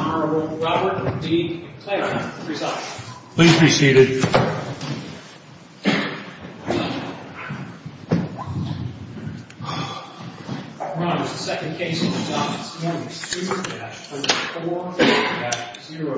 Honorable Robert D. Claybrook, presiding. Please be seated. Your Honor, this is the second case of the day. This is the second case of the day. Good morning, Your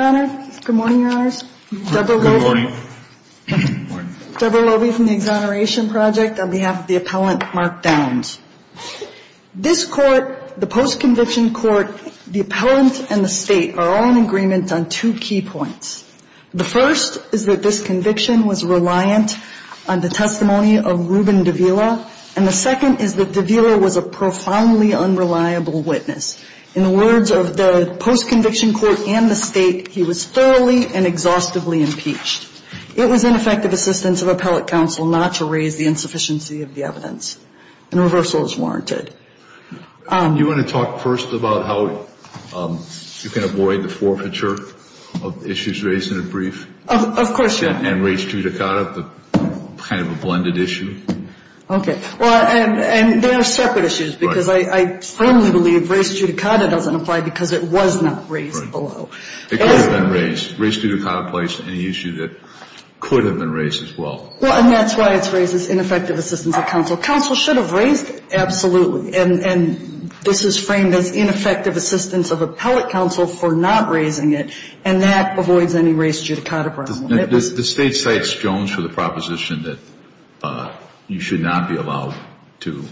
Honor. Good morning, Your Honors. Good morning. Deborah Lovie from the Exoneration Project on behalf of the appellant, Mark Downs. This court, the post-conviction court, the appellant and the State are all in agreement on two key points. The first is that this conviction was reliant on the testimony of Reuben Davila. And the second is that Davila was a profoundly unreliable witness. In the words of the post-conviction court and the State, he was thoroughly and exhaustively impeached. It was ineffective assistance of appellate counsel not to raise the insufficiency of the evidence. And reversal is warranted. You want to talk first about how you can avoid the forfeiture of issues raised in a brief? Of course, Your Honor. And raised judicata, the kind of a blended issue? Okay. Well, and they are separate issues because I firmly believe raised judicata doesn't apply because it was not raised below. It could have been raised. Raised judicata placed an issue that could have been raised as well. Well, and that's why it's raised as ineffective assistance of counsel. Counsel should have raised it. And this is framed as ineffective assistance of appellate counsel for not raising it. And that avoids any raised judicata problem. Does the State cite Jones for the proposition that you should not be allowed to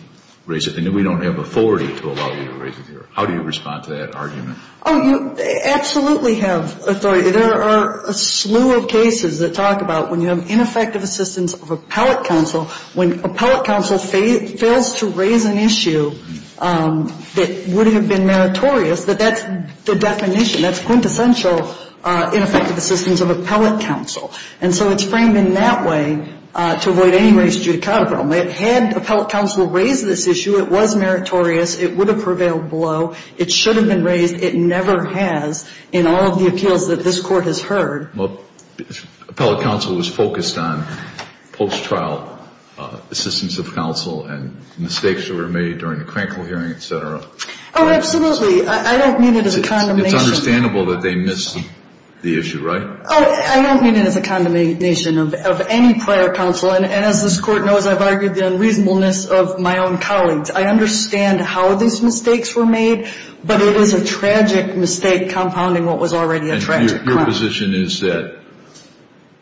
raise it and that we don't have authority to allow you to raise it here? How do you respond to that argument? Oh, you absolutely have authority. There are a slew of cases that talk about when you have ineffective assistance of appellate counsel, when appellate counsel fails to raise an issue that would have been meritorious, that that's the definition. That's quintessential ineffective assistance of appellate counsel. And so it's framed in that way to avoid any raised judicata problem. Had appellate counsel raised this issue, it was meritorious. It would have prevailed below. It should have been raised. It never has in all of the appeals that this Court has heard. Well, appellate counsel was focused on post-trial assistance of counsel and mistakes that were made during the Crankville hearing, et cetera. Oh, absolutely. I don't mean it as a condemnation. It's understandable that they missed the issue, right? Oh, I don't mean it as a condemnation of any prior counsel. And as this Court knows, I've argued the unreasonableness of my own colleagues. I understand how these mistakes were made, but it is a tragic mistake compounding what was already a tragic crime. Your position is that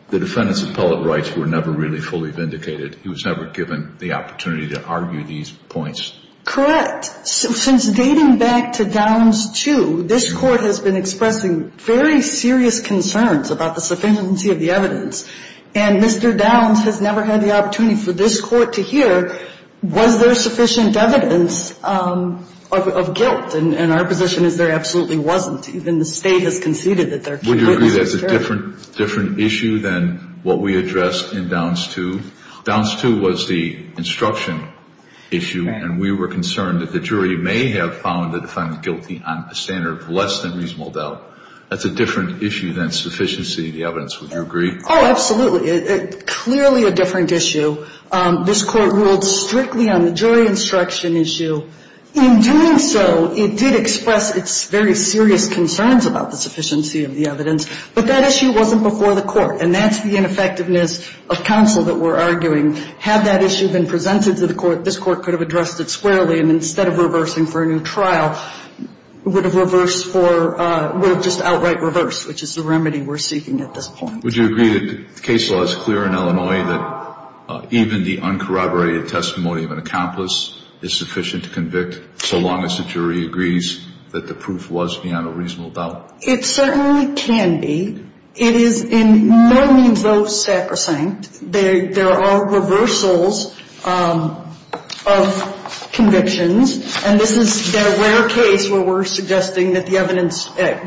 the defendant's appellate rights were never really fully vindicated. He was never given the opportunity to argue these points. Correct. Since dating back to Downs II, this Court has been expressing very serious concerns about the sufficiency of the evidence. And Mr. Downs has never had the opportunity for this Court to hear, was there sufficient evidence of guilt? And our position is there absolutely wasn't. Even the State has conceded that there can be. Would you agree that's a different issue than what we addressed in Downs II? Downs II was the instruction issue, and we were concerned that the jury may have found the defendant guilty on a standard of less than reasonable doubt. That's a different issue than sufficiency of the evidence. Would you agree? Oh, absolutely. Clearly a different issue. This Court ruled strictly on the jury instruction issue. In doing so, it did express its very serious concerns about the sufficiency of the evidence, but that issue wasn't before the Court, and that's the ineffectiveness of counsel that we're arguing. Had that issue been presented to the Court, this Court could have addressed it squarely, and instead of reversing for a new trial, would have just outright reversed, which is the remedy we're seeking at this point. Would you agree that the case law is clear in Illinois that even the uncorroborated testimony of an accomplice is sufficient to convict so long as the jury agrees that the proof was beyond a reasonable doubt? It certainly can be. It is in no means though sacrosanct. There are reversals of convictions, and this is the rare case where we're suggesting that the evidence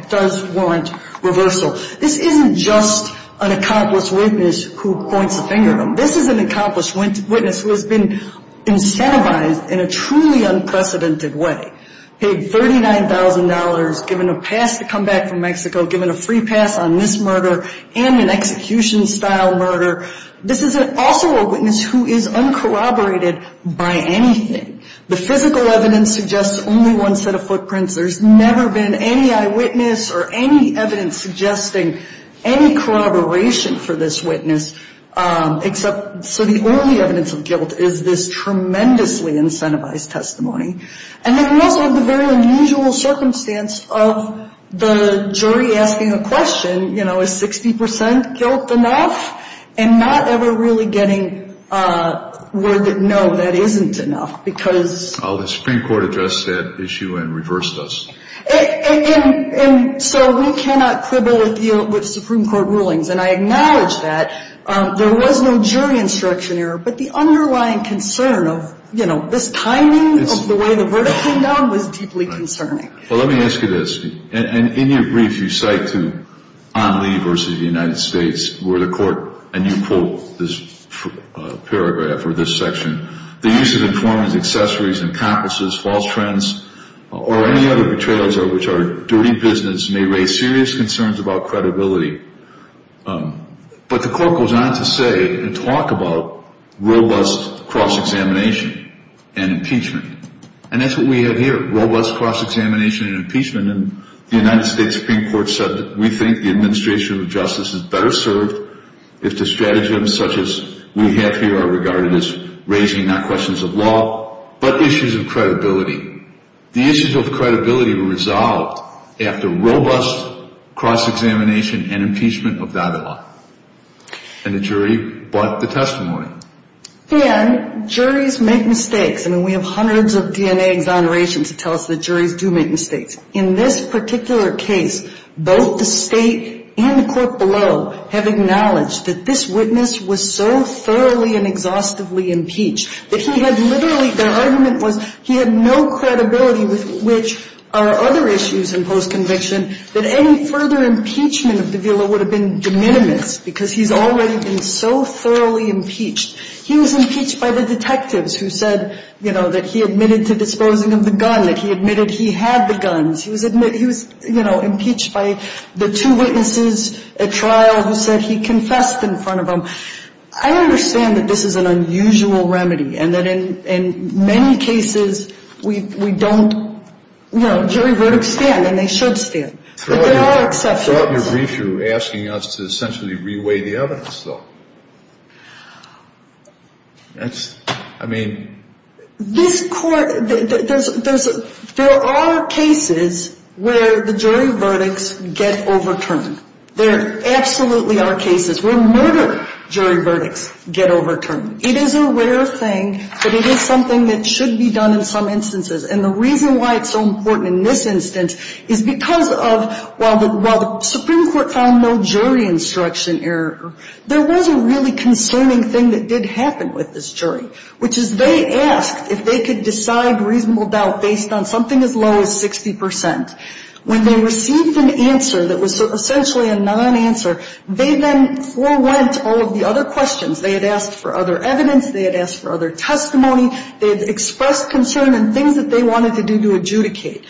does warrant reversal. This isn't just an accomplice witness who points the finger at them. This is an accomplished witness who has been incentivized in a truly unprecedented way, paid $39,000, given a pass to come back from Mexico, given a free pass on this murder and an execution-style murder. This is also a witness who is uncorroborated by anything. The physical evidence suggests only one set of footprints. There's never been any eyewitness or any evidence suggesting any corroboration for this witness except so the only evidence of guilt is this tremendously incentivized testimony. And then we also have the very unusual circumstance of the jury asking a question, you know, is 60% guilt enough? And not ever really getting a word that, no, that isn't enough because. Well, the Supreme Court addressed that issue and reversed us. And so we cannot quibble with Supreme Court rulings. And I acknowledge that. There was no jury instruction error, but the underlying concern of, you know, this timing of the way the verdict came down was deeply concerning. Well, let me ask you this. And in your brief you cite to On Lee versus the United States where the court, and you quote this paragraph or this section, the use of informants, accessories, accomplices, false friends, or any other betrayals of which are dirty business may raise serious concerns about credibility. But the court goes on to say and talk about robust cross-examination and impeachment. And that's what we have here, robust cross-examination and impeachment. And the United States Supreme Court said that we think the administration of justice is better served if the stratagems such as we have here are regarded as raising not questions of law but issues of credibility. The issues of credibility were resolved after robust cross-examination and impeachment of that law. And the jury brought the testimony. And juries make mistakes. I mean, we have hundreds of DNA exonerations that tell us that juries do make mistakes. In this particular case, both the state and the court below have acknowledged that this witness was so thoroughly and exhaustively impeached that he had literally, their argument was he had no credibility with which are other issues in post-conviction that any further impeachment of de Villa would have been de minimis because he's already been so thoroughly impeached. He was impeached by the detectives who said, you know, that he admitted to disposing of the gun, that he admitted he had the guns. He was, you know, impeached by the two witnesses at trial who said he confessed in front of them. I understand that this is an unusual remedy and that in many cases we don't, you know, jury verdicts stand and they should stand. But there are exceptions. You're asking us to essentially reweigh the evidence, though. That's, I mean. This court, there are cases where the jury verdicts get overturned. There absolutely are cases where murder jury verdicts get overturned. It is a rare thing, but it is something that should be done in some instances. And the reason why it's so important in this instance is because of, while the Supreme Court found no jury instruction error, there was a really concerning thing that did happen with this jury, which is they asked if they could decide reasonable doubt based on something as low as 60%. When they received an answer that was essentially a non-answer, they then forwent all of the other questions. They had asked for other evidence. They had asked for other testimony. They had expressed concern in things that they wanted to do to adjudicate.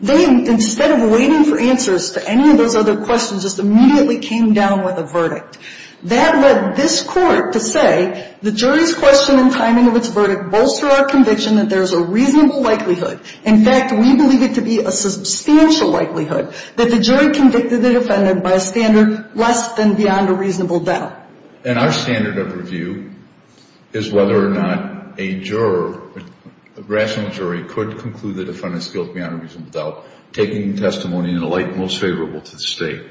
They, instead of waiting for answers to any of those other questions, just immediately came down with a verdict. That led this court to say the jury's question and timing of its verdict bolster our conviction that there's a reasonable likelihood. In fact, we believe it to be a substantial likelihood that the jury convicted the defendant by a standard less than beyond a reasonable doubt. And our standard of review is whether or not a juror, a rational jury, could conclude the defendant's guilt beyond a reasonable doubt, taking the testimony in a light most favorable to the State.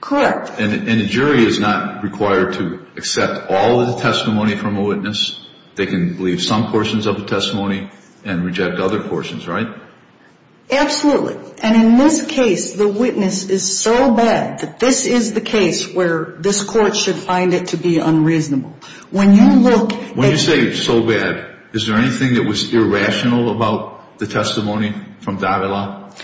Correct. And a jury is not required to accept all of the testimony from a witness. They can leave some portions of the testimony and reject other portions, right? Absolutely. And in this case, the witness is so bad that this is the case where this court should find it to be unreasonable. When you look at... When you say so bad, is there anything that was irrational about the testimony from Davila?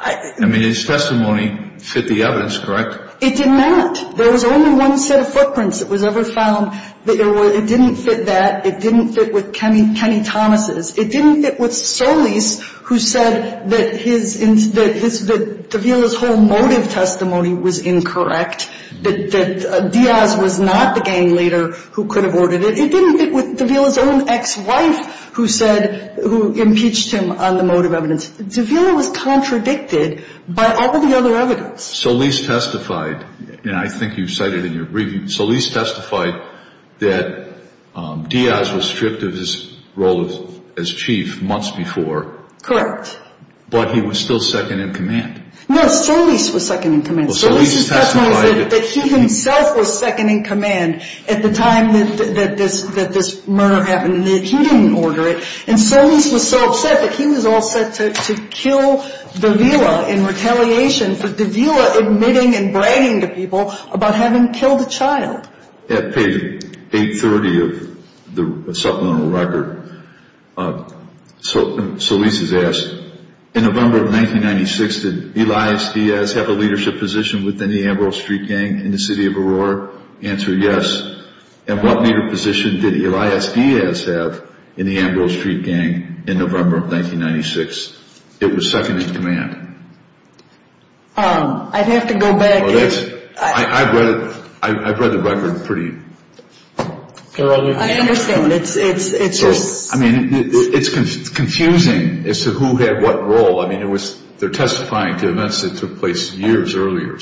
I mean, his testimony fit the evidence, correct? It did not. There was only one set of footprints that was ever found. It didn't fit that. It didn't fit with Kenny Thomas'. It didn't fit with Solis, who said that Davila's whole motive testimony was incorrect, that Diaz was not the gang leader who could have ordered it. It didn't fit with Davila's own ex-wife, who said, who impeached him on the motive evidence. Davila was contradicted by all the other evidence. Solis testified, and I think you've cited in your briefing, Solis testified that Diaz was stripped of his role as chief months before. Correct. But he was still second in command. No, Solis was second in command. Solis' testimony said that he himself was second in command at the time that this murder happened and that he didn't order it. And Solis was so upset that he was all set to kill Davila in retaliation. So Davila admitting and bragging to people about having killed a child. At page 830 of the supplemental record, Solis is asked, in November of 1996, did Elias Diaz have a leadership position within the Ambrose Street Gang in the city of Aurora? Answer, yes. And what leader position did Elias Diaz have in the Ambrose Street Gang in November of 1996? It was second in command. I'd have to go back. I've read the record pretty thoroughly. I understand. I mean, it's confusing as to who had what role. I mean, they're testifying to events that took place years earlier.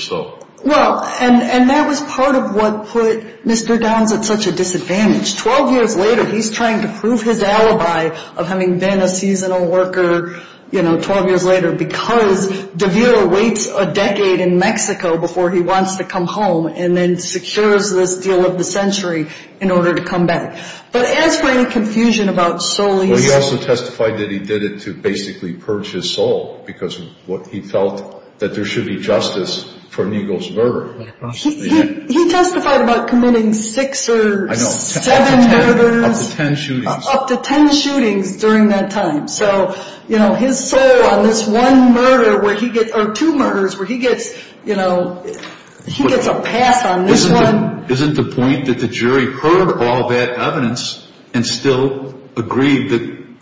Well, and that was part of what put Mr. Downs at such a disadvantage. Twelve years later, he's trying to prove his alibi of having been a seasonal worker, you know, twelve years later, because Davila waits a decade in Mexico before he wants to come home and then secures this deal of the century in order to come back. But as for any confusion about Solis. Well, he also testified that he did it to basically purge his soul because he felt that there should be justice for Neagle's murder. He testified about committing six or seven murders. Up to ten shootings. Up to ten shootings during that time. So, you know, his soul on this one murder or two murders where he gets, you know, he gets a pass on this one. Isn't the point that the jury heard all that evidence and still agreed that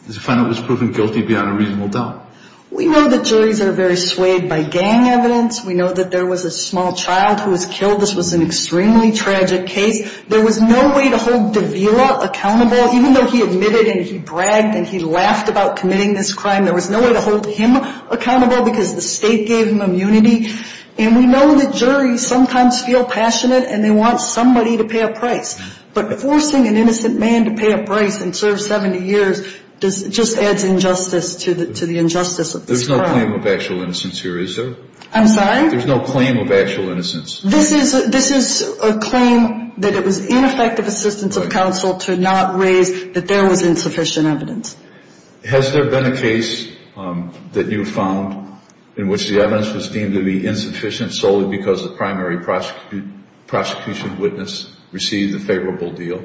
the defendant was proven guilty beyond a reasonable doubt? We know the juries are very swayed by gang evidence. We know that there was a small child who was killed. This was an extremely tragic case. There was no way to hold Davila accountable. Even though he admitted and he bragged and he laughed about committing this crime, there was no way to hold him accountable because the state gave him immunity. And we know that juries sometimes feel passionate and they want somebody to pay a price. But forcing an innocent man to pay a price and serve 70 years just adds injustice to the injustice of this crime. There's no claim of actual innocence here, is there? I'm sorry? There's no claim of actual innocence. This is a claim that it was ineffective assistance of counsel to not raise that there was insufficient evidence. Has there been a case that you found in which the evidence was deemed to be insufficient solely because the primary prosecution witness received a favorable deal?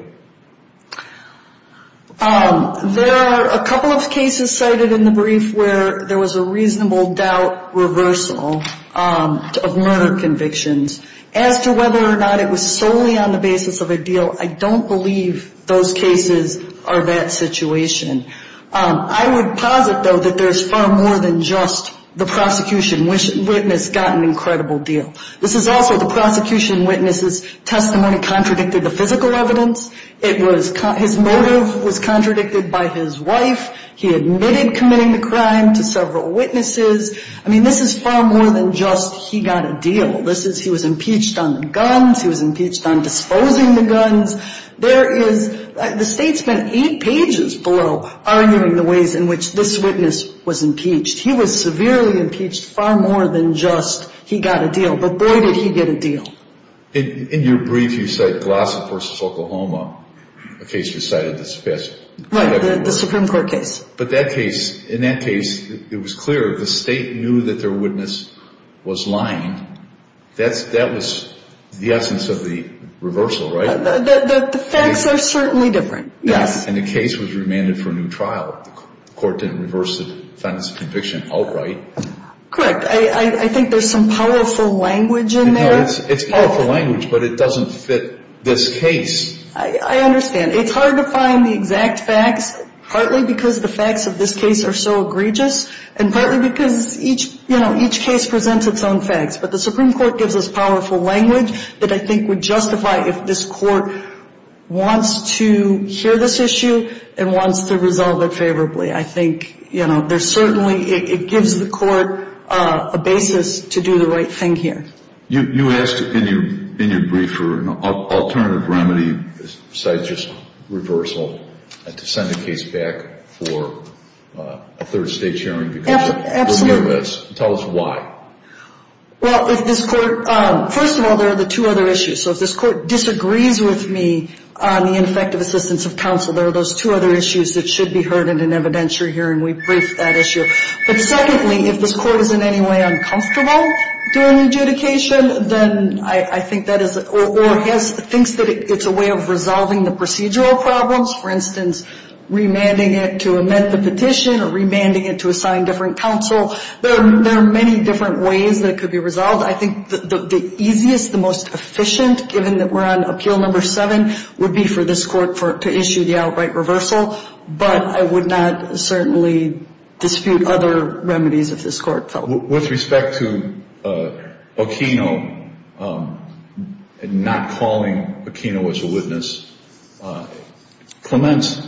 There are a couple of cases cited in the brief where there was a reasonable doubt reversal of murder convictions. As to whether or not it was solely on the basis of a deal, I don't believe those cases are that situation. I would posit, though, that there's far more than just the prosecution witness got an incredible deal. This is also the prosecution witness's testimony contradicted the physical evidence. His motive was contradicted by his wife. He admitted committing the crime to several witnesses. I mean, this is far more than just he got a deal. This is he was impeached on the guns. He was impeached on disposing the guns. The state spent eight pages below arguing the ways in which this witness was impeached. He was severely impeached, far more than just he got a deal. But, boy, did he get a deal. In your brief, you cite Glossop v. Oklahoma, a case you cited that's the best. Right, the Supreme Court case. But that case, in that case, it was clear the state knew that their witness was lying. That was the essence of the reversal, right? The facts are certainly different, yes. And the case was remanded for a new trial. The court didn't reverse the defendant's conviction outright. Correct. I think there's some powerful language in there. No, it's powerful language, but it doesn't fit this case. I understand. It's hard to find the exact facts, partly because the facts of this case are so egregious, and partly because each case presents its own facts. But the Supreme Court gives us powerful language that I think would justify if this court wants to hear this issue and wants to resolve it favorably. I think, you know, there's certainly – it gives the court a basis to do the right thing here. You asked in your brief for an alternative remedy besides just reversal to send a case back for a third state hearing. Absolutely. Tell us why. Well, if this court – first of all, there are the two other issues. So if this court disagrees with me on the ineffective assistance of counsel, there are those two other issues that should be heard in an evidentiary hearing. We briefed that issue. But secondly, if this court is in any way uncomfortable doing adjudication, then I think that is – or thinks that it's a way of resolving the procedural problems, for instance, remanding it to amend the petition or remanding it to assign different counsel, there are many different ways that it could be resolved. I think the easiest, the most efficient, given that we're on appeal number seven, would be for this court to issue the outright reversal. But I would not certainly dispute other remedies if this court felt. With respect to Aquino not calling Aquino as a witness, Clement's,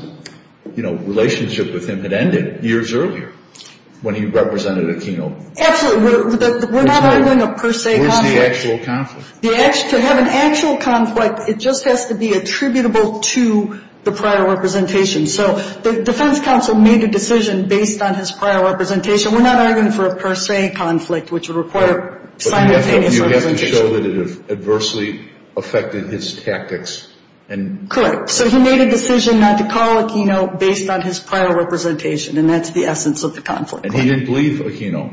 you know, relationship with him had ended years earlier when he represented Aquino. Absolutely. We're not arguing a per se conflict. Where's the actual conflict? To have an actual conflict, it just has to be attributable to the prior representation. So the defense counsel made a decision based on his prior representation. We're not arguing for a per se conflict, which would require simultaneous representation. But you have to show that it adversely affected his tactics. Correct. So he made a decision not to call Aquino based on his prior representation, and that's the essence of the conflict. And he didn't believe Aquino.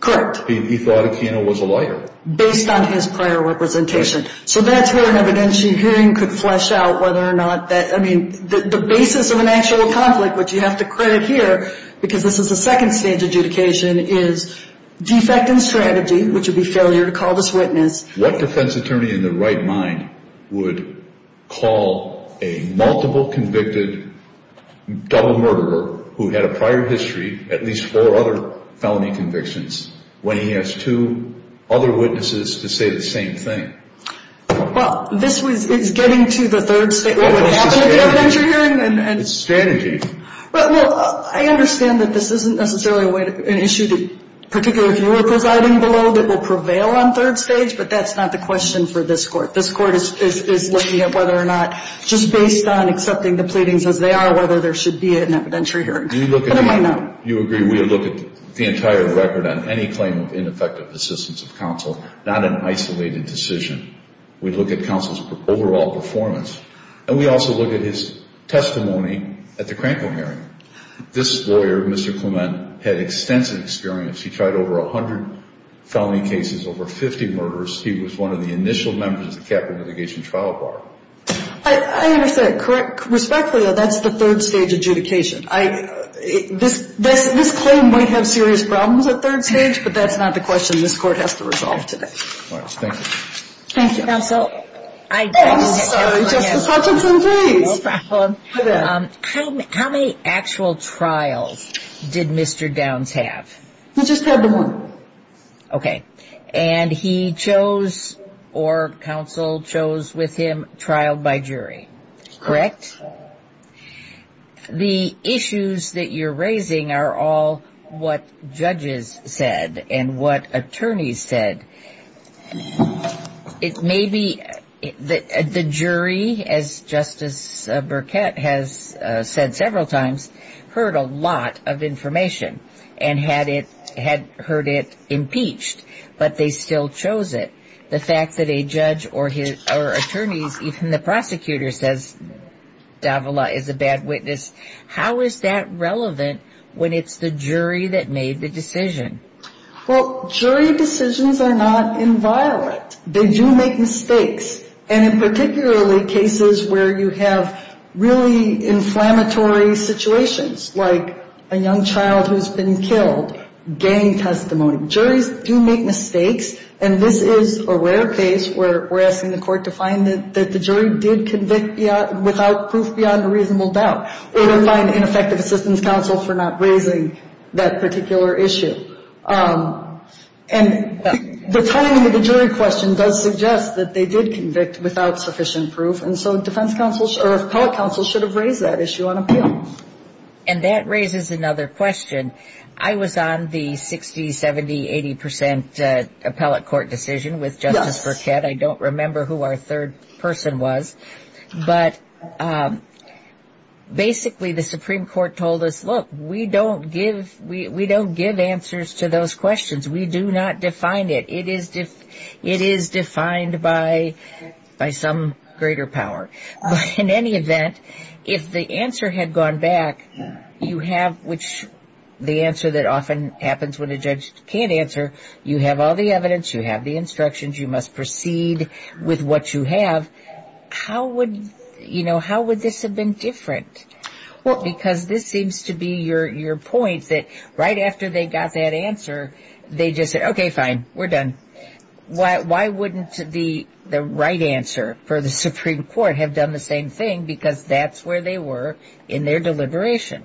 Correct. He thought Aquino was a liar. Based on his prior representation. So that's where an evidentiary hearing could flesh out whether or not that, I mean, the basis of an actual conflict, which you have to credit here, because this is a second stage adjudication, is defect in strategy, which would be failure to call this witness. What defense attorney in their right mind would call a multiple convicted double murderer who had a prior history, at least four other felony convictions, when he has two other witnesses to say the same thing? Well, this is getting to the third stage. What would happen at the evidentiary hearing? It's strategy. Well, I understand that this isn't necessarily an issue that, particularly if you were presiding below, that will prevail on third stage, but that's not the question for this court. This court is looking at whether or not, just based on accepting the pleadings as they are, whether there should be an evidentiary hearing. You agree we look at the entire record on any claim of ineffective assistance of counsel, not an isolated decision. We look at counsel's overall performance. And we also look at his testimony at the Crankville hearing. This lawyer, Mr. Clement, had extensive experience. He tried over 100 felony cases, over 50 murders. He was one of the initial members of the capital litigation trial bar. I understand. Respectfully, though, that's the third stage adjudication. This claim might have serious problems at third stage, but that's not the question this court has to resolve today. Thank you. Thank you. Counsel. Justice Hutchinson, please. How many actual trials did Mr. Downs have? He just had one. Okay. And he chose, or counsel chose with him, trial by jury? Correct. The issues that you're raising are all what judges said and what attorneys said. Maybe the jury, as Justice Burkett has said several times, heard a lot of information and had heard it impeached, but they still chose it. The fact that a judge or attorneys, even the prosecutor says Davila is a bad witness, how is that relevant when it's the jury that made the decision? Well, jury decisions are not inviolate. They do make mistakes. And in particularly cases where you have really inflammatory situations, like a young child who's been killed, gang testimony. Juries do make mistakes, and this is a rare case where we're asking the court to find that the jury did convict without proof beyond a reasonable doubt, or to find ineffective assistance counsel for not raising that particular issue. And the timing of the jury question does suggest that they did convict without sufficient proof, and so defense counsel or appellate counsel should have raised that issue on appeal. And that raises another question. I was on the 60%, 70%, 80% appellate court decision with Justice Burkett. I don't remember who our third person was. But basically the Supreme Court told us, look, we don't give answers to those questions. We do not define it. It is defined by some greater power. But in any event, if the answer had gone back, you have, which the answer that often happens when a judge can't answer, you have all the evidence, you have the instructions, you must proceed with what you have, how would this have been different? Well, because this seems to be your point, that right after they got that answer, they just said, okay, fine, we're done. Why wouldn't the right answer for the Supreme Court have done the same thing, because that's where they were in their deliberation?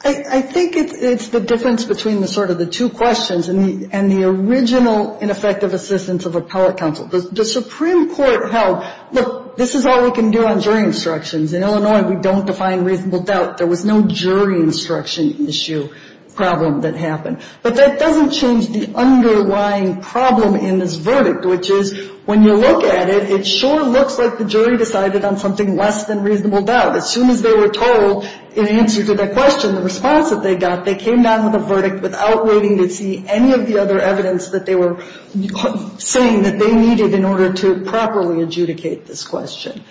I think it's the difference between sort of the two questions and the original ineffective assistance of appellate counsel. The Supreme Court held, look, this is all we can do on jury instructions. In Illinois, we don't define reasonable doubt. There was no jury instruction issue problem that happened. But that doesn't change the underlying problem in this verdict, which is when you look at it, it sure looks like the jury decided on something less than reasonable doubt. As soon as they were told in answer to that question, the response that they got, they came down with a verdict without waiting to see any of the other evidence that they were saying that they needed in order to properly adjudicate this question.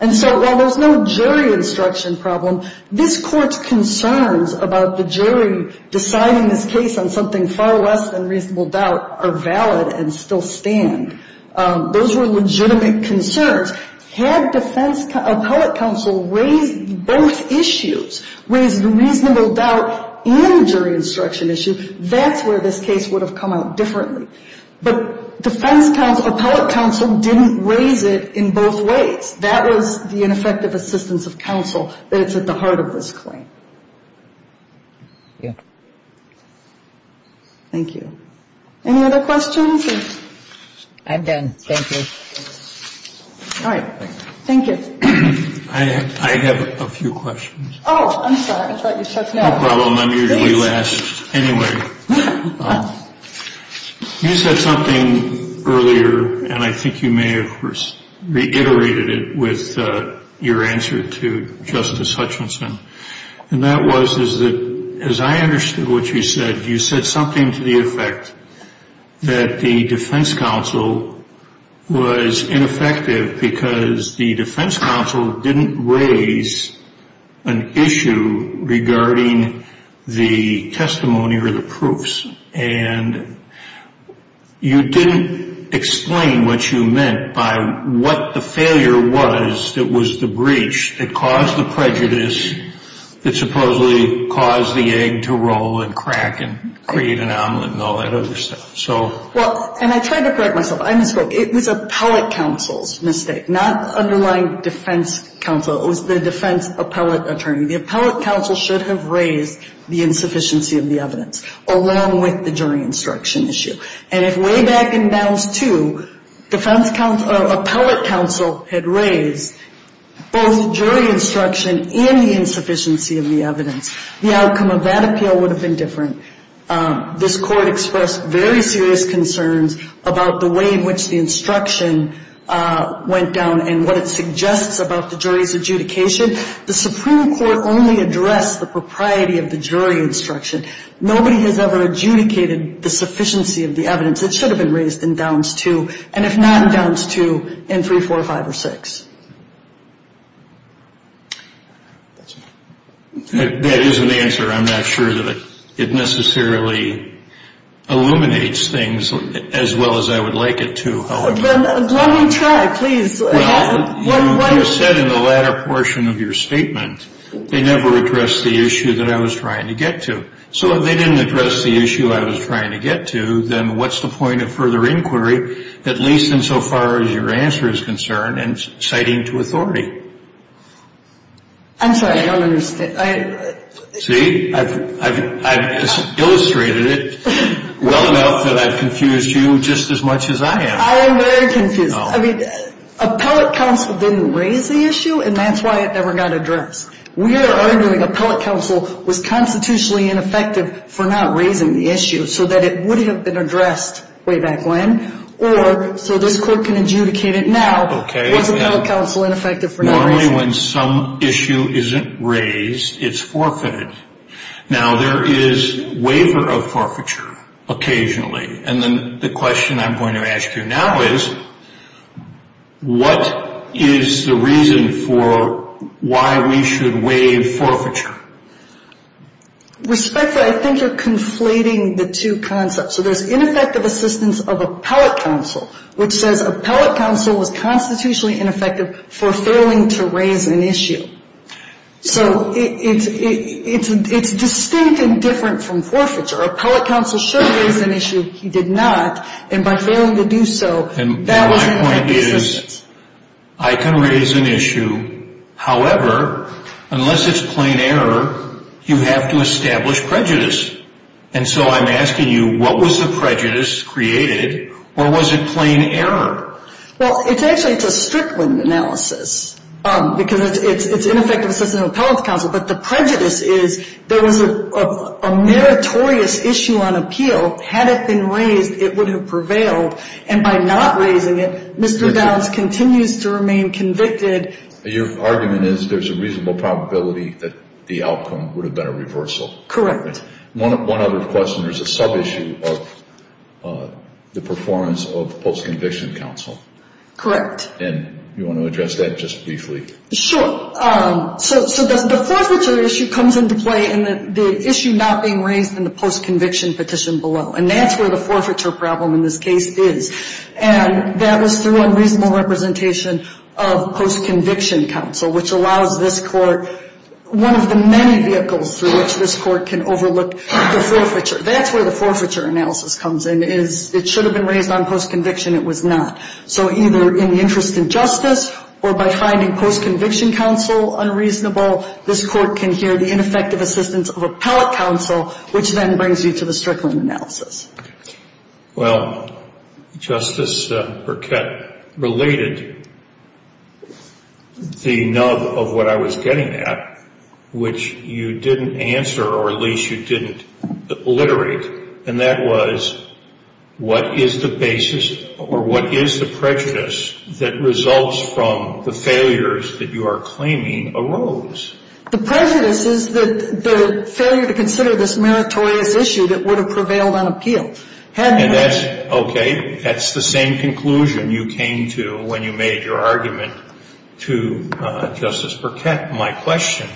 And so while there's no jury instruction problem, this Court's concerns about the jury deciding this case on something far less than reasonable doubt are valid and still stand. Those were legitimate concerns. Had defense appellate counsel raised both issues, raised the reasonable doubt and the jury instruction issue, that's where this case would have come out differently. But defense appellate counsel didn't raise it in both ways. That was the ineffective assistance of counsel that's at the heart of this claim. Thank you. Any other questions? I'm done. Thank you. All right. Thank you. I have a few questions. Oh, I'm sorry. I thought you said no. No problem. I'm usually last. Anyway, you said something earlier, and I think you may have reiterated it with your answer to Justice Hutchinson, and that was is that as I understood what you said, you said something to the effect that the defense counsel was ineffective because the defense counsel didn't raise an issue regarding the testimony or the proofs. And you didn't explain what you meant by what the failure was that was the breach that caused the prejudice that supposedly caused the egg to roll and crack and create an omelet and all that other stuff. Well, and I tried to correct myself. I misspoke. It was appellate counsel's mistake, not underlying defense counsel. It was the defense appellate attorney. The appellate counsel should have raised the insufficiency of the evidence, along with the jury instruction issue. And if way back in Bounds 2, defense counsel or appellate counsel had raised both jury instruction and the insufficiency of the evidence, the outcome of that appeal would have been different. This Court expressed very serious concerns about the way in which the instruction went down and what it suggests about the jury's adjudication. The Supreme Court only addressed the propriety of the jury instruction. Nobody has ever adjudicated the sufficiency of the evidence. It should have been raised in Bounds 2, and if not in Bounds 2, in 3, 4, 5, or 6. That is an answer. I'm not sure that it necessarily illuminates things as well as I would like it to. Let me try, please. Well, you said in the latter portion of your statement, they never addressed the issue that I was trying to get to. So if they didn't address the issue I was trying to get to, then what's the point of further inquiry, at least insofar as your answer is concerned, and citing to authority? I'm sorry, I don't understand. See, I've illustrated it well enough that I've confused you just as much as I have. I am very confused. I mean, Appellate Counsel didn't raise the issue, and that's why it never got addressed. We are arguing Appellate Counsel was constitutionally ineffective for not raising the issue so that it would have been addressed way back when, or so this Court can adjudicate it now was Appellate Counsel ineffective for not raising it. Only when some issue isn't raised, it's forfeited. Now, there is waiver of forfeiture occasionally, and then the question I'm going to ask you now is, what is the reason for why we should waive forfeiture? Respectfully, I think you're conflating the two concepts. So there's ineffective assistance of Appellate Counsel, which says Appellate Counsel was constitutionally ineffective for failing to raise an issue. So it's distinct and different from forfeiture. Appellate Counsel should raise an issue. He did not, and by failing to do so, that was an ineffective assistance. My point is, I can raise an issue. However, unless it's plain error, you have to establish prejudice. And so I'm asking you, what was the prejudice created, or was it plain error? Well, it's actually a Strickland analysis, because it's ineffective assistance of Appellate Counsel, but the prejudice is there was a meritorious issue on appeal. Had it been raised, it would have prevailed, and by not raising it, Mr. Downs continues to remain convicted. Your argument is there's a reasonable probability that the outcome would have been a reversal. Correct. One other question, there's a sub-issue of the performance of Post-Conviction Counsel. Correct. And you want to address that just briefly? Sure. So the forfeiture issue comes into play in the issue not being raised in the Post-Conviction petition below, and that's where the forfeiture problem in this case is, and that was through unreasonable representation of Post-Conviction Counsel, which allows this Court one of the many vehicles through which this Court can overlook the forfeiture. That's where the forfeiture analysis comes in is it should have been raised on Post-Conviction. It was not. So either in the interest of justice or by finding Post-Conviction Counsel unreasonable, this Court can hear the ineffective assistance of Appellate Counsel, which then brings you to the Strickland analysis. Well, Justice Burkett related the nub of what I was getting at, which you didn't answer or at least you didn't alliterate, and that was what is the basis or what is the prejudice that results from the failures that you are claiming arose? The prejudice is the failure to consider this meritorious issue that would have prevailed on appeal. And that's okay. That's the same conclusion you came to when you made your argument to Justice Burkett. My question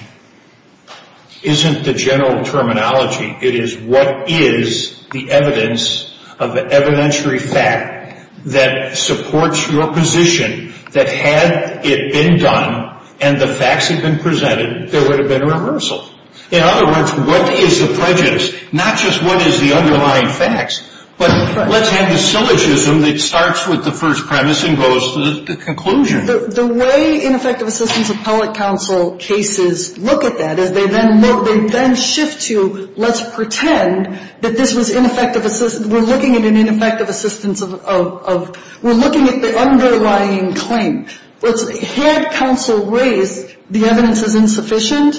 isn't the general terminology. It is what is the evidence of an evidentiary fact that supports your position that had it been done and the facts had been presented, there would have been a reversal. In other words, what is the prejudice, not just what is the underlying facts, but let's have the syllogism that starts with the first premise and goes to the conclusion. The way ineffective assistance of Appellate Counsel cases look at that is they then shift to let's pretend that this was ineffective assistance. We're looking at an ineffective assistance of we're looking at the underlying claim. Had counsel raised the evidence is insufficient,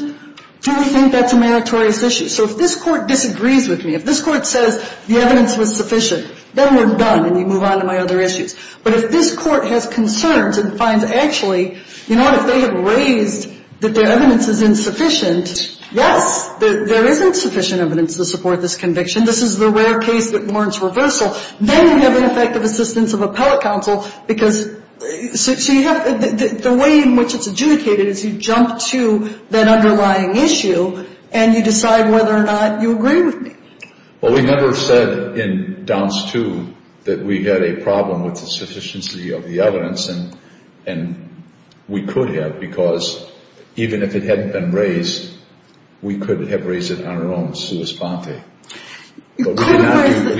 do we think that's a meritorious issue? So if this Court disagrees with me, if this Court says the evidence was sufficient, then we're done and you move on to my other issues. But if this Court has concerns and finds actually, you know what, if they have raised that their evidence is insufficient, yes, there is insufficient evidence to support this conviction. This is the rare case that warrants reversal. Then we have ineffective assistance of Appellate Counsel because so you have the way in which it's adjudicated is you jump to that underlying issue and you decide whether or not you agree with me. Well, we never said in Downs 2 that we had a problem with the sufficiency of the evidence, and we could have because even if it hadn't been raised, we could have raised it on our own sua sponte. We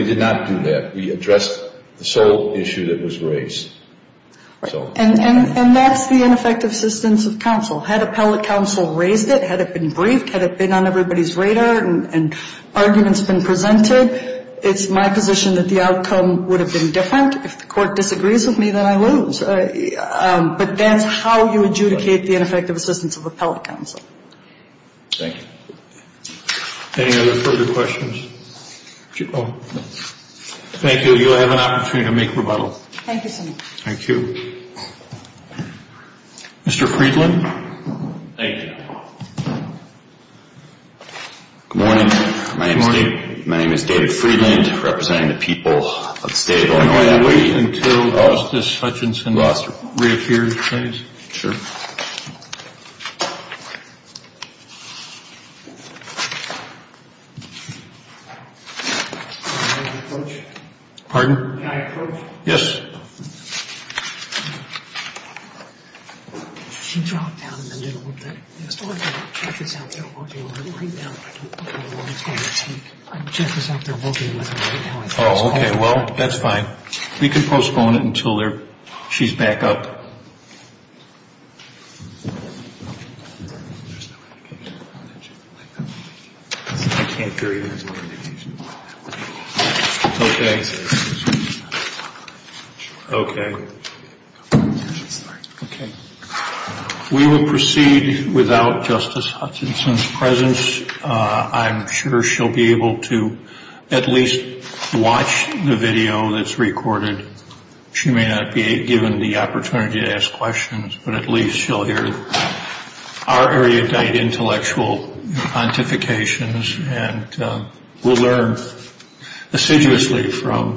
did not do that. We addressed the sole issue that was raised. And that's the ineffective assistance of counsel. Had Appellate Counsel raised it, had it been briefed, had it been on everybody's radar and arguments been presented, it's my position that the outcome would have been different. If the Court disagrees with me, then I lose. But that's how you adjudicate the ineffective assistance of Appellate Counsel. Thank you. Any other further questions? Thank you. You'll have an opportunity to make rebuttal. Thank you so much. Thank you. Mr. Friedland? Thank you. Good morning. My name is David Friedland, representing the people of the state of Illinois. Can I wait until Justice Hutchinson reappears, please? Pardon? Can I approach? Yes. She dropped down in the middle, didn't she? Yes. Check this out. They're working with her right now. I don't know how long it's going to take. I checked this out. They're working with her right now. Oh, okay. Well, that's fine. We can postpone it until she's back up. Okay. Okay. We will proceed without Justice Hutchinson's presence. I'm sure she'll be able to at least watch the video that's recorded. She may not be given the opportunity to ask questions, but at least she'll hear our erudite intellectual pontifications and will learn assiduously from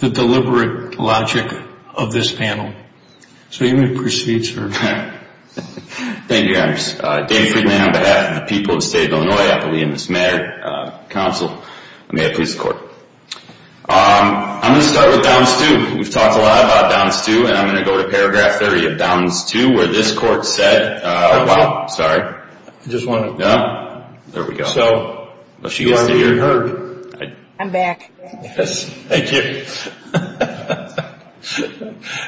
the deliberate logic of this panel. So you may proceed, sir. Thank you, guys. I'm Dave Friedman on behalf of the people of the state of Illinois. I believe in this matter. Counsel, may I please the court? I'm going to start with Downs 2. We've talked a lot about Downs 2, and I'm going to go to paragraph 30 of Downs 2, where this court said – well, sorry. I just want to – There we go. So you are being heard. I'm back. Yes. Thank you.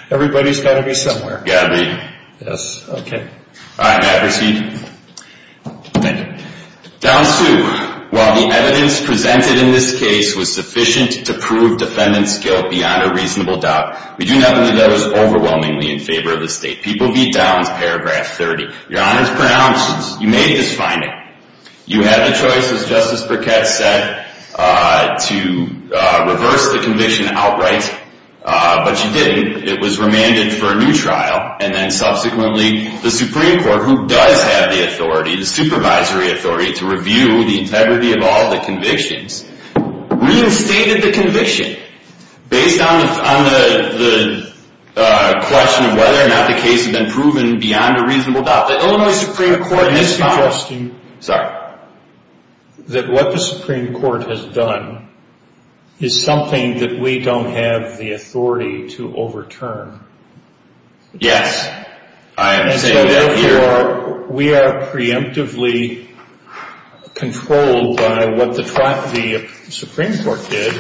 Everybody's got to be somewhere. Got to be. Yes. Okay. All right, may I proceed? Thank you. Downs 2. While the evidence presented in this case was sufficient to prove defendant's guilt beyond a reasonable doubt, we do not leave those overwhelmingly in favor of the state. People v. Downs, paragraph 30. Your Honor's pronounced. You made this finding. You had the choice, as Justice Burkett said, to reverse the conviction outright, but you didn't. It was remanded for a new trial, and then subsequently the Supreme Court, who does have the authority, the supervisory authority, to review the integrity of all the convictions, reinstated the conviction based on the question of whether or not the case had been proven beyond a reasonable doubt. The Illinois Supreme Court in this case – Sorry. – that what the Supreme Court has done is something that we don't have the authority to overturn. Yes. I am saying that here. And so, therefore, we are preemptively controlled by what the Supreme Court did,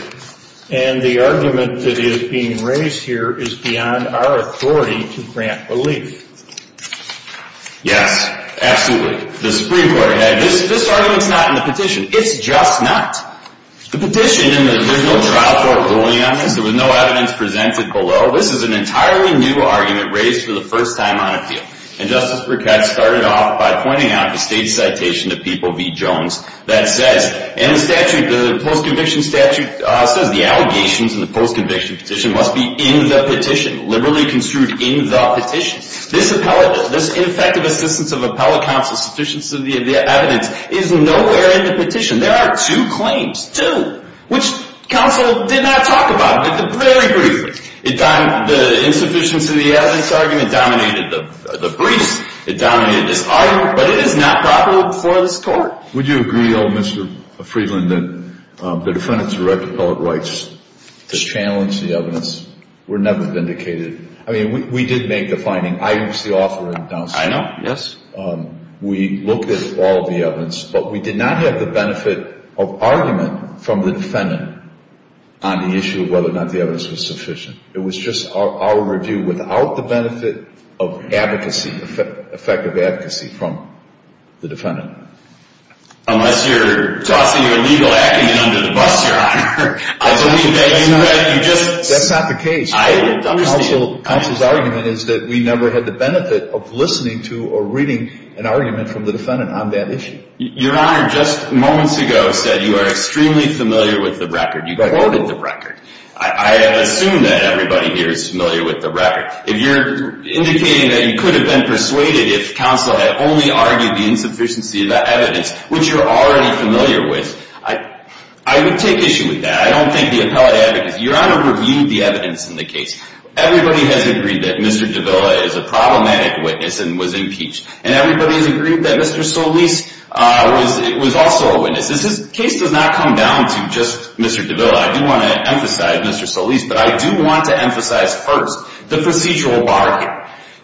and the argument that is being raised here is beyond our authority to grant relief. Yes. Absolutely. The Supreme Court had – this argument's not in the petition. It's just not. The petition – and there's no trial court ruling on this. There was no evidence presented below. This is an entirely new argument raised for the first time on appeal, and Justice Burkett started off by pointing out the state citation to People v. Jones that says – and the statute, the post-conviction statute, says the allegations in the post-conviction petition must be in the petition, liberally construed in the petition. This ineffective assistance of appellate counsel's sufficiency of the evidence is nowhere in the petition. There are two claims, two, which counsel did not talk about very briefly. The insufficiency of the evidence argument dominated the briefs. It dominated this argument, but it is not proper for this court. Would you agree, old Mr. Friedland, that the defendant's direct appellate rights to challenge the evidence were never vindicated? I mean, we did make the finding. I was the author. I know. Yes. We looked at all the evidence, but we did not have the benefit of argument from the defendant on the issue of whether or not the evidence was sufficient. It was just our review without the benefit of advocacy, effective advocacy from the defendant. Unless you're tossing your legal acumen under the bus, Your Honor. That's not the case. Counsel's argument is that we never had the benefit of listening to or reading an argument from the defendant on that issue. Your Honor, just moments ago said you are extremely familiar with the record. You quoted the record. I assume that everybody here is familiar with the record. If you're indicating that you could have been persuaded if counsel had only argued the insufficiency of the evidence, which you're already familiar with, I would take issue with that. I don't think the appellate advocacy, Your Honor, reviewed the evidence in the case. Everybody has agreed that Mr. Davila is a problematic witness and was impeached. And everybody has agreed that Mr. Solis was also a witness. This case does not come down to just Mr. Davila. I do want to emphasize Mr. Solis, but I do want to emphasize first the procedural bargain.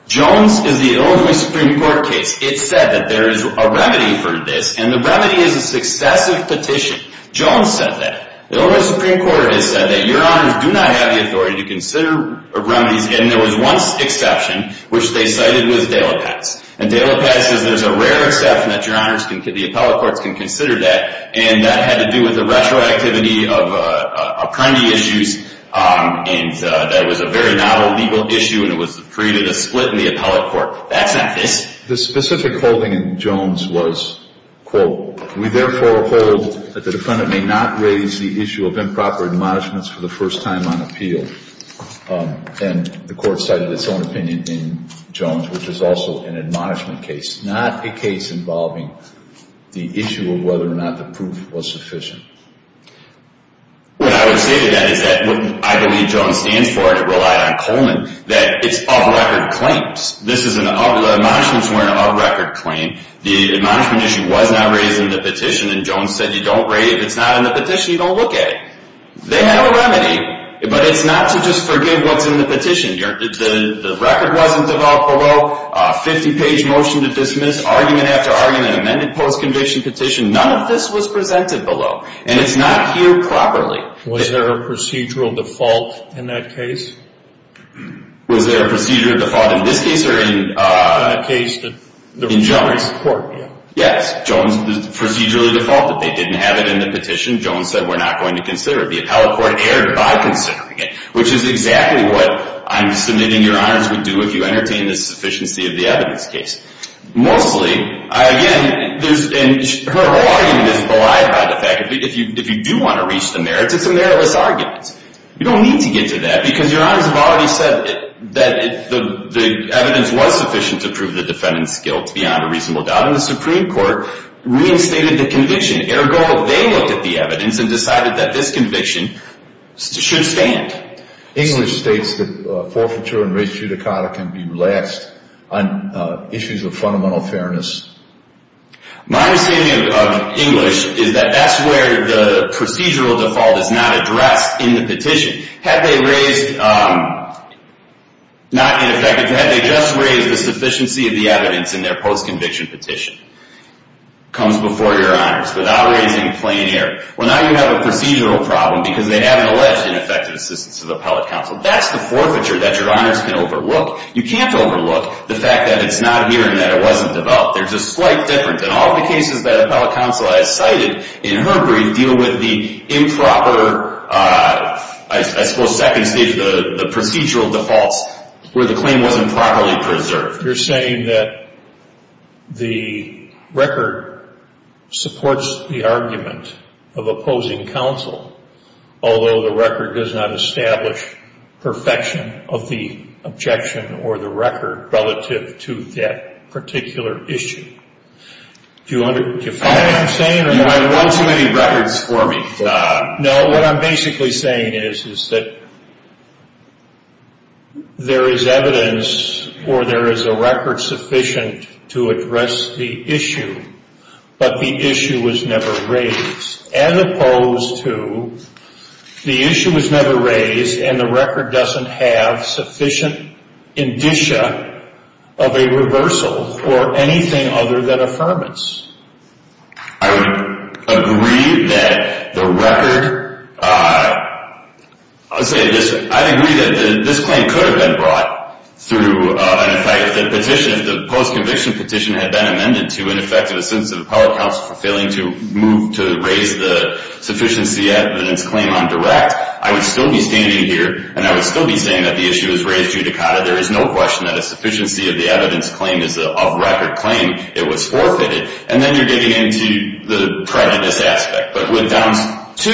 Jones is the Illinois Supreme Court case. It said that there is a remedy for this, and the remedy is a successive petition. Jones said that. The Illinois Supreme Court has said that. Your Honors do not have the authority to consider remedies. And there was one exception, which they cited with De La Paz. And De La Paz says there's a rare exception that the appellate courts can consider that, and that had to do with the retroactivity of criminal issues, and that was a very novel legal issue, and it created a split in the appellate court. The specific holding in Jones was, quote, we therefore hold that the defendant may not raise the issue of improper admonishments for the first time on appeal. And the court cited its own opinion in Jones, which is also an admonishment case, not a case involving the issue of whether or not the proof was sufficient. What I would say to that is that what I believe Jones stands for, and I rely on Coleman, that it's of record claims. This is an admonishments were an of record claim. The admonishment issue was not raised in the petition, and Jones said you don't raise it. If it's not in the petition, you don't look at it. They had no remedy, but it's not to just forgive what's in the petition. The record wasn't developed below, a 50-page motion to dismiss, argument after argument, amended post-conviction petition. None of this was presented below, and it's not here properly. Was there a procedural default in that case? Was there a procedural default in this case or in Jones? In that case, the court, yeah. Yes, Jones procedurally defaulted. They didn't have it in the petition. Jones said we're not going to consider it. The appellate court erred by considering it, which is exactly what I'm submitting your honors would do if you entertain the sufficiency of the evidence case. Mostly, again, her whole argument is belied by the fact that if you do want to reach the merits, it's a meritless argument. You don't need to get to that because your honors have already said that the evidence was sufficient to prove the defendant's guilt beyond a reasonable doubt, and the Supreme Court reinstated the conviction. Ergo, they looked at the evidence and decided that this conviction should stand. English states that forfeiture and res judicata can be relaxed on issues of fundamental fairness. My understanding of English is that that's where the procedural default is not addressed in the petition. Had they raised, not ineffective, had they just raised the sufficiency of the evidence in their post-conviction petition comes before your honors without raising a plain error. Well, now you have a procedural problem because they haven't alleged ineffective assistance to the appellate counsel. That's the forfeiture that your honors can overlook. You can't overlook the fact that it's not here and that it wasn't developed. There's a slight difference. And all the cases that appellate counsel has cited in Hungary deal with the improper, I suppose second stage, the procedural defaults where the claim wasn't properly preserved. You're saying that the record supports the argument of opposing counsel, although the record does not establish perfection of the objection or the record relative to that particular issue. Do you follow what I'm saying? You have well too many records for me. No, what I'm basically saying is that there is evidence or there is a record sufficient to address the issue, but the issue was never raised as opposed to the issue was never raised and the record doesn't have sufficient indicia of a reversal for anything other than affirmance. I would agree that the record, I'll say this, I'd agree that this claim could have been brought through, and if the post-conviction petition had been amended to ineffective assistance of appellate counsel for failing to move to raise the sufficiency evidence claim on direct, I would still be standing here and I would still be saying that the issue was raised judicata. There is no question that a sufficiency of the evidence claim is an off-record claim. It was forfeited. And then you're getting into the prejudice aspect. But when it comes to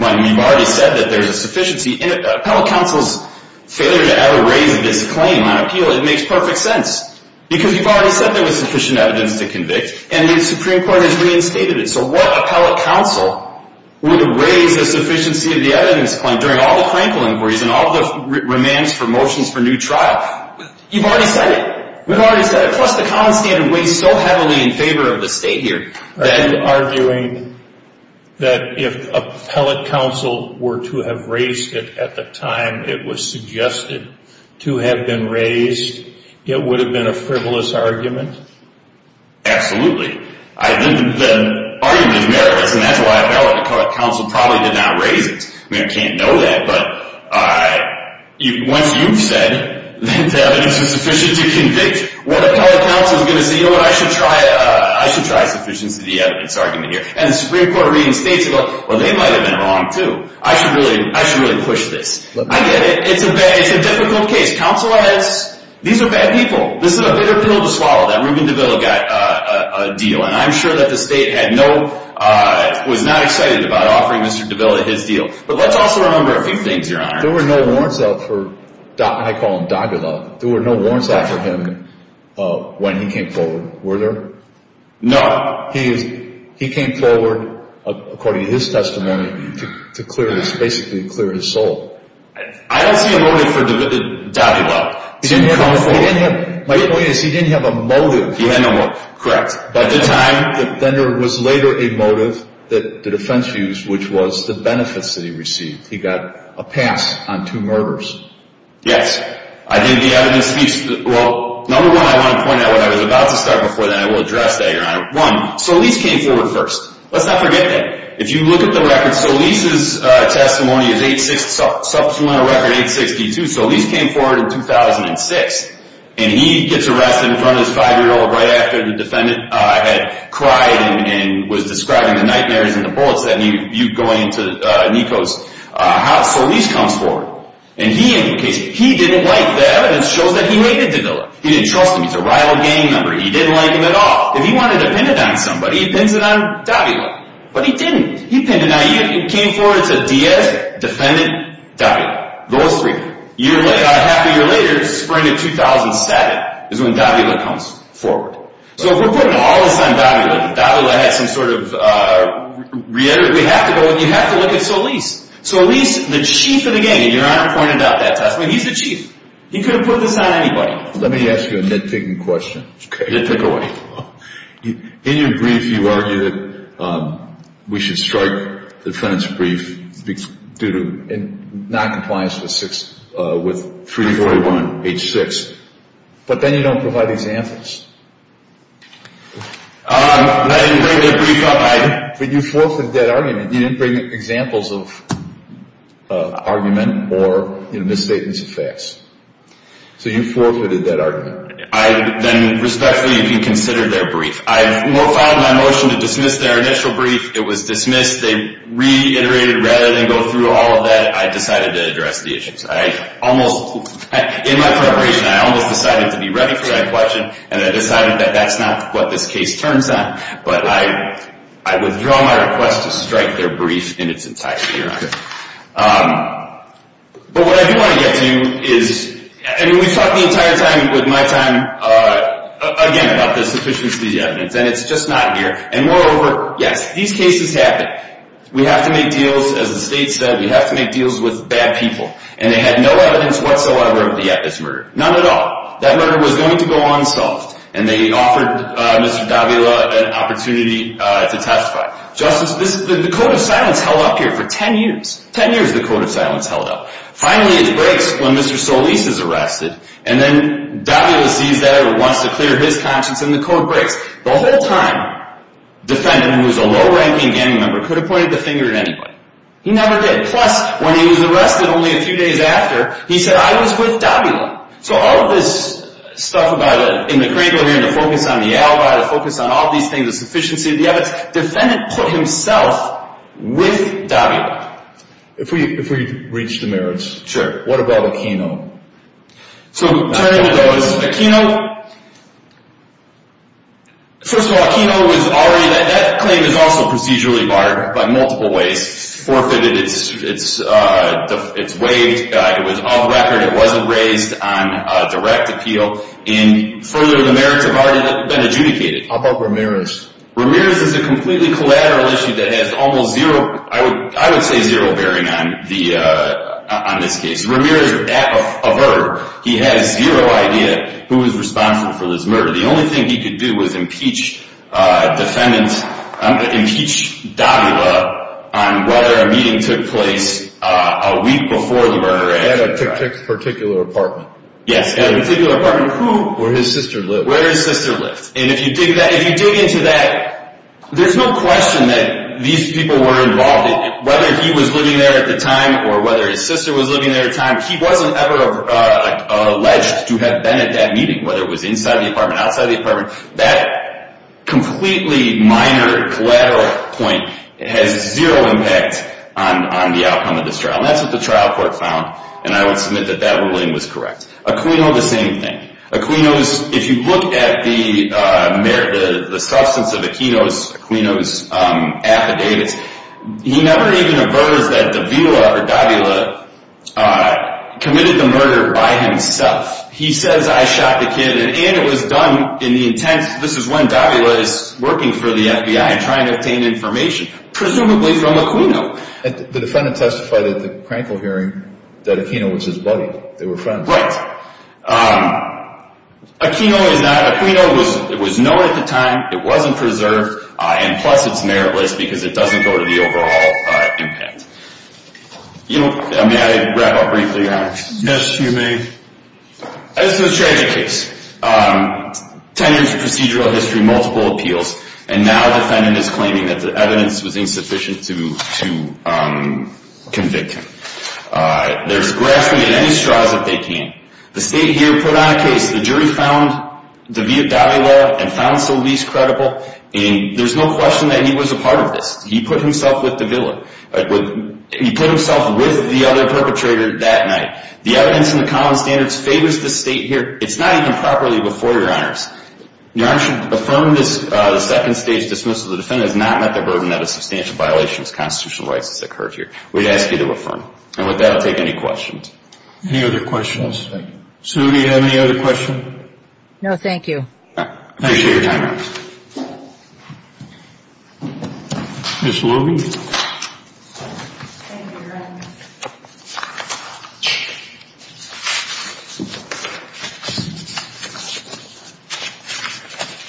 when you've already said that there's a sufficiency, appellate counsel's failure to ever raise this claim on appeal, it makes perfect sense because you've already said there was sufficient evidence to convict and the Supreme Court has reinstated it. So what appellate counsel would have raised the sufficiency of the evidence claim during all the crankle inquiries and all the remands for motions for new trial? You've already said it. We've already said it. Plus the common standard weighs so heavily in favor of the state here. Then arguing that if appellate counsel were to have raised it at the time it was suggested to have been raised, it would have been a frivolous argument? Absolutely. The argument is meritless, and that's why appellate counsel probably did not raise it. I mean, I can't know that, but once you've said that the evidence was sufficient to convict, what appellate counsel is going to say, you know what, I should try sufficiency of the evidence argument here? And the Supreme Court reinstates it. Well, they might have been wrong too. I should really push this. I get it. It's a difficult case. Counsel has, these are bad people. This is a bitter pill to swallow. That Reuben Davila got a deal, and I'm sure that the state was not excited about offering Mr. Davila his deal. But let's also remember a few things, Your Honor. There were no warrants out for, I call him Davila. There were no warrants out for him when he came forward, were there? No. He came forward according to his testimony to basically clear his soul. I don't see a motive for Davila to come forward. My point is he didn't have a motive. He had no motive. Correct. But at the time, then there was later a motive that the defense used, which was the benefits that he received. He got a pass on two murders. Yes. I think the evidence speaks. Well, number one, I want to point out what I was about to start before then. I will address that, Your Honor. One, Solis came forward first. Let's not forget that. If you look at the records, Solis' testimony is 8-6, supplemental record 8-62. Solis came forward in 2006, and he gets arrested in front of his 5-year-old right after the defendant had cried and was describing the nightmares in the bullets that you go into Nico's house. Solis comes forward, and he implicates him. He didn't like that evidence shows that he hated Davila. He didn't trust him. He's a rival gang member. He didn't like him at all. If he wanted to pin it on somebody, he pins it on Davila. But he didn't. He pinned it. Now, he came forward. It's a Diaz, defendant, Davila. Those three. A half a year later, spring of 2007, is when Davila comes forward. So if we're putting all this on Davila, Davila had some sort of reality. We have to go and you have to look at Solis. Solis, the chief of the gang, and Your Honor pointed out that testimony. He's the chief. He could have put this on anybody. Let me ask you a nitpicking question. Okay. Nitpick away. In your brief, you argue that we should strike the defendant's brief due to noncompliance with 341H6. But then you don't provide examples. I didn't bring that brief up. But you forfeited that argument. You didn't bring examples of argument or misstatements of facts. So you forfeited that argument. Then respectfully, you can consider their brief. I filed my motion to dismiss their initial brief. It was dismissed. They reiterated rather than go through all of that. I decided to address the issues. In my preparation, I almost decided to be ready for that question, and I decided that that's not what this case turns on. But I withdraw my request to strike their brief in its entirety, Your Honor. But what I do want to get to is, and we've talked the entire time with my time, again, about the sufficiency of the evidence. And it's just not here. And moreover, yes, these cases happen. We have to make deals, as the state said, we have to make deals with bad people. And they had no evidence whatsoever of the at this murder. None at all. That murder was going to go unsolved. And they offered Mr. Davila an opportunity to testify. Justice, the code of silence held up here for 10 years. Ten years, the code of silence held up. Finally, it breaks when Mr. Solis is arrested. And then Davila sees that and wants to clear his conscience, and the code breaks. The whole time, the defendant, who was a low-ranking gang member, could have pointed the finger at anybody. He never did. Plus, when he was arrested only a few days after, he said, I was with Davila. So all of this stuff about in the Kringle hearing, the focus on the alibi, the focus on all these things, the sufficiency of the evidence, the defendant put himself with Davila. If we reach the merits. What about Aquino? So, turning to those, Aquino, first of all, Aquino was already, that claim is also procedurally barred by multiple ways. It's forfeited, it's waived, it was off record, it wasn't raised on direct appeal. And further, the merits have already been adjudicated. How about Ramirez? Ramirez is a completely collateral issue that has almost zero, I would say zero bearing on this case. Ramirez, a murderer, he had zero idea who was responsible for this murder. The only thing he could do was impeach Davila on whether a meeting took place a week before the murder. At a particular apartment. Yes, at a particular apartment. Where his sister lived. Where his sister lived. And if you dig into that, there's no question that these people were involved. Whether he was living there at the time or whether his sister was living there at the time, he wasn't ever alleged to have been at that meeting, whether it was inside the apartment, outside the apartment. That completely minor collateral point has zero impact on the outcome of this trial. And that's what the trial court found. And I would submit that that ruling was correct. Aquino, the same thing. Aquino's, if you look at the substance of Aquino's affidavits, he never even aversed that Davila committed the murder by himself. He says, I shot the kid, and it was done in the intent, this is when Davila is working for the FBI trying to obtain information, presumably from Aquino. The defendant testified at the Krankel hearing that Aquino was his buddy. They were friends. Right. Aquino was known at the time, it wasn't preserved, and plus it's meritless because it doesn't go to the overall impact. May I wrap up briefly, Your Honor? Yes, you may. This is a tragic case. Ten years of procedural history, multiple appeals, and now the defendant is claiming that the evidence was insufficient to convict him. They're grasping at any straws that they can. The state here put on a case, the jury found Davila and found Solis credible, and there's no question that he was a part of this. He put himself with Davila. He put himself with the other perpetrator that night. The evidence in the common standards favors the state here. It's not even properly before, Your Honors. Your Honor should affirm this second stage dismissal. The defendant has not met the burden of a substantial violation of his constitutional rights as it occurred here. We'd ask you to affirm. And with that, I'll take any questions. Any other questions? Sue, do you have any other questions? No, thank you. Thank you for your time. Ms. Luby? Thank you, Your Honor.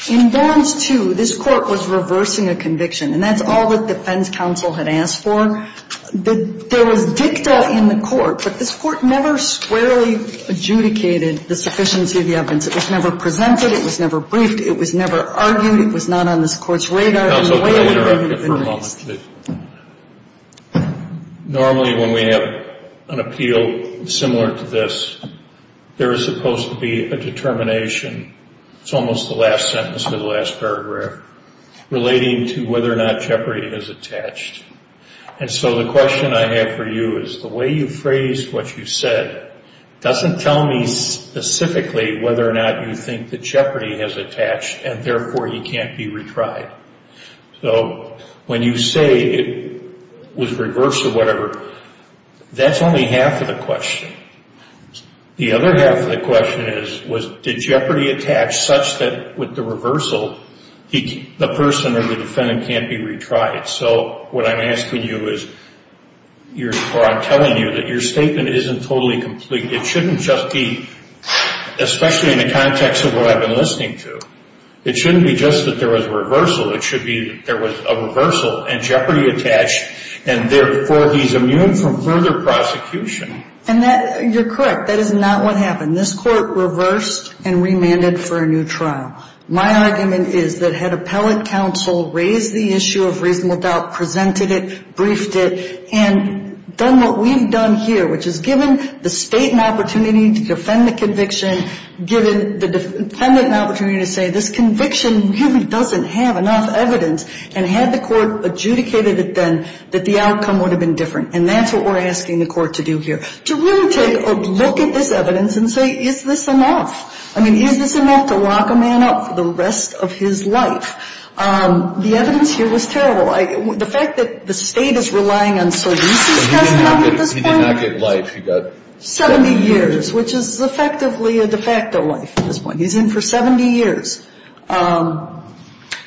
In Barnes 2, this court was reversing a conviction, and that's all that defense counsel had asked for. There was dicta in the court, but this court never squarely adjudicated the sufficiency of the evidence. It was never presented. It was never briefed. It was never argued. It was not on this court's radar. Normally, when we have an appeal similar to this, there is supposed to be a determination, it's almost the last sentence or the last paragraph, relating to whether or not jeopardy is attached. And so the question I have for you is, the way you phrased what you said doesn't tell me specifically whether or not you think that jeopardy is attached, and therefore you can't be retried. So when you say it was reversed or whatever, that's only half of the question. The other half of the question is, did jeopardy attach such that with the reversal, the person or the defendant can't be retried? So what I'm asking you is, or I'm telling you that your statement isn't totally complete. It shouldn't just be, especially in the context of what I've been listening to, it shouldn't be just that there was a reversal. It should be that there was a reversal and jeopardy attached, and therefore he's immune from further prosecution. And you're correct. That is not what happened. This court reversed and remanded for a new trial. My argument is that had appellate counsel raised the issue of reasonable doubt, presented it, briefed it, and done what we've done here, which is given the State an opportunity to defend the conviction, given the defendant an opportunity to say, this conviction really doesn't have enough evidence, and had the court adjudicated it then, that the outcome would have been different. And that's what we're asking the court to do here, to really take a look at this evidence and say, is this enough? I mean, is this enough to lock a man up for the rest of his life? The evidence here was terrible. The fact that the State is relying on Solis' testimony at this point. He did not get life. He got death. Seventy years, which is effectively a de facto life at this point. He's in for 70 years.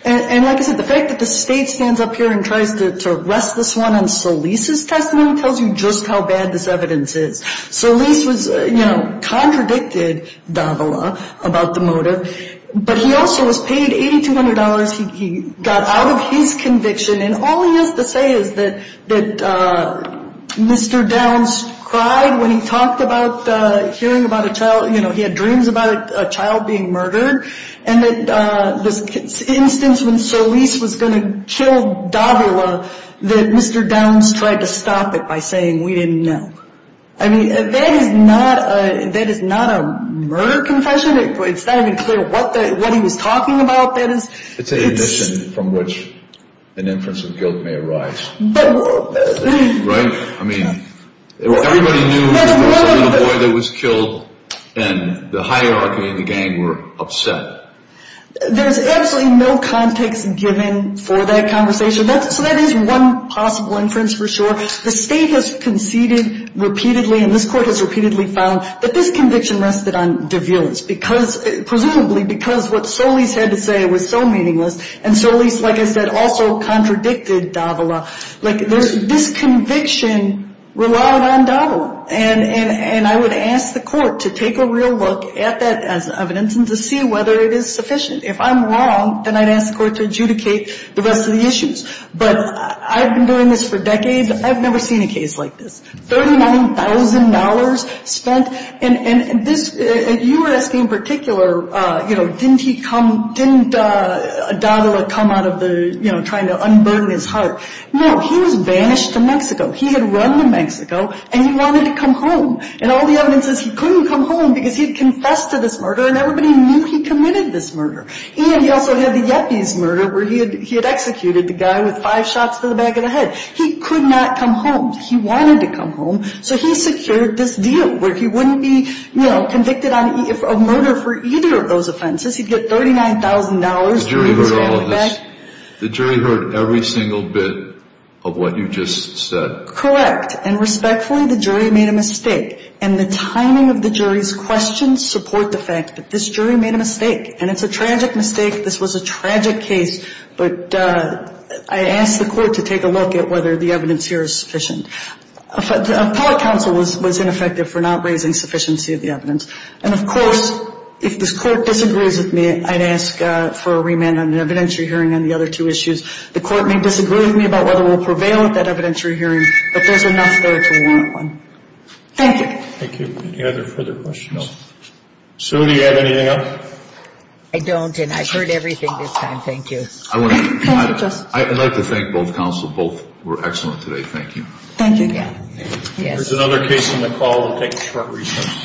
And like I said, the fact that the State stands up here and tries to arrest this one on Solis' testimony tells you just how bad this evidence is. Solis was, you know, contradicted Davila about the motive. But he also was paid $8,200. He got out of his conviction. And all he has to say is that Mr. Downs cried when he talked about hearing about a child. You know, he had dreams about a child being murdered. And that the instance when Solis was going to kill Davila, that Mr. Downs tried to stop it by saying, we didn't know. I mean, that is not a murder confession. It's not even clear what he was talking about. It's an admission from which an inference of guilt may arise. Right? I mean, everybody knew there was a little boy that was killed, and the hierarchy and the gang were upset. There's absolutely no context given for that conversation. So that is one possible inference for sure. The state has conceded repeatedly, and this court has repeatedly found, that this conviction rested on deviance, presumably because what Solis had to say was so meaningless. And Solis, like I said, also contradicted Davila. Like, this conviction relied on Davila. And I would ask the court to take a real look at that evidence and to see whether it is sufficient. If I'm wrong, then I'd ask the court to adjudicate the rest of the issues. But I've been doing this for decades. I've never seen a case like this. $39,000 spent. And this you were asking in particular, you know, didn't he come, didn't Davila come out of the, you know, trying to unburn his heart. No. He was banished to Mexico. He had run to Mexico, and he wanted to come home. And all the evidence says he couldn't come home because he had confessed to this murder, and everybody knew he committed this murder. And he also had the Yepis murder, where he had executed the guy with five shots to the back of the head. He could not come home. He wanted to come home. So he secured this deal where he wouldn't be, you know, convicted of murder for either of those offenses. He'd get $39,000. The jury heard all of this. The jury heard every single bit of what you just said. Correct. And respectfully, the jury made a mistake. And the timing of the jury's questions support the fact that this jury made a mistake. And it's a tragic mistake. This was a tragic case. But I ask the Court to take a look at whether the evidence here is sufficient. The appellate counsel was ineffective for not raising sufficiency of the evidence. And, of course, if this Court disagrees with me, I'd ask for a remand on an evidentiary hearing on the other two issues. The Court may disagree with me about whether we'll prevail at that evidentiary hearing, but there's enough there to warrant one. Thank you. Thank you. Any other further questions? Sue, do you have anything else? I don't, and I've heard everything this time. Thank you. Thank you, Justice. I'd like to thank both counsel. Both were excellent today. Thank you. Thank you. There's another case on the call. We'll take a short recess.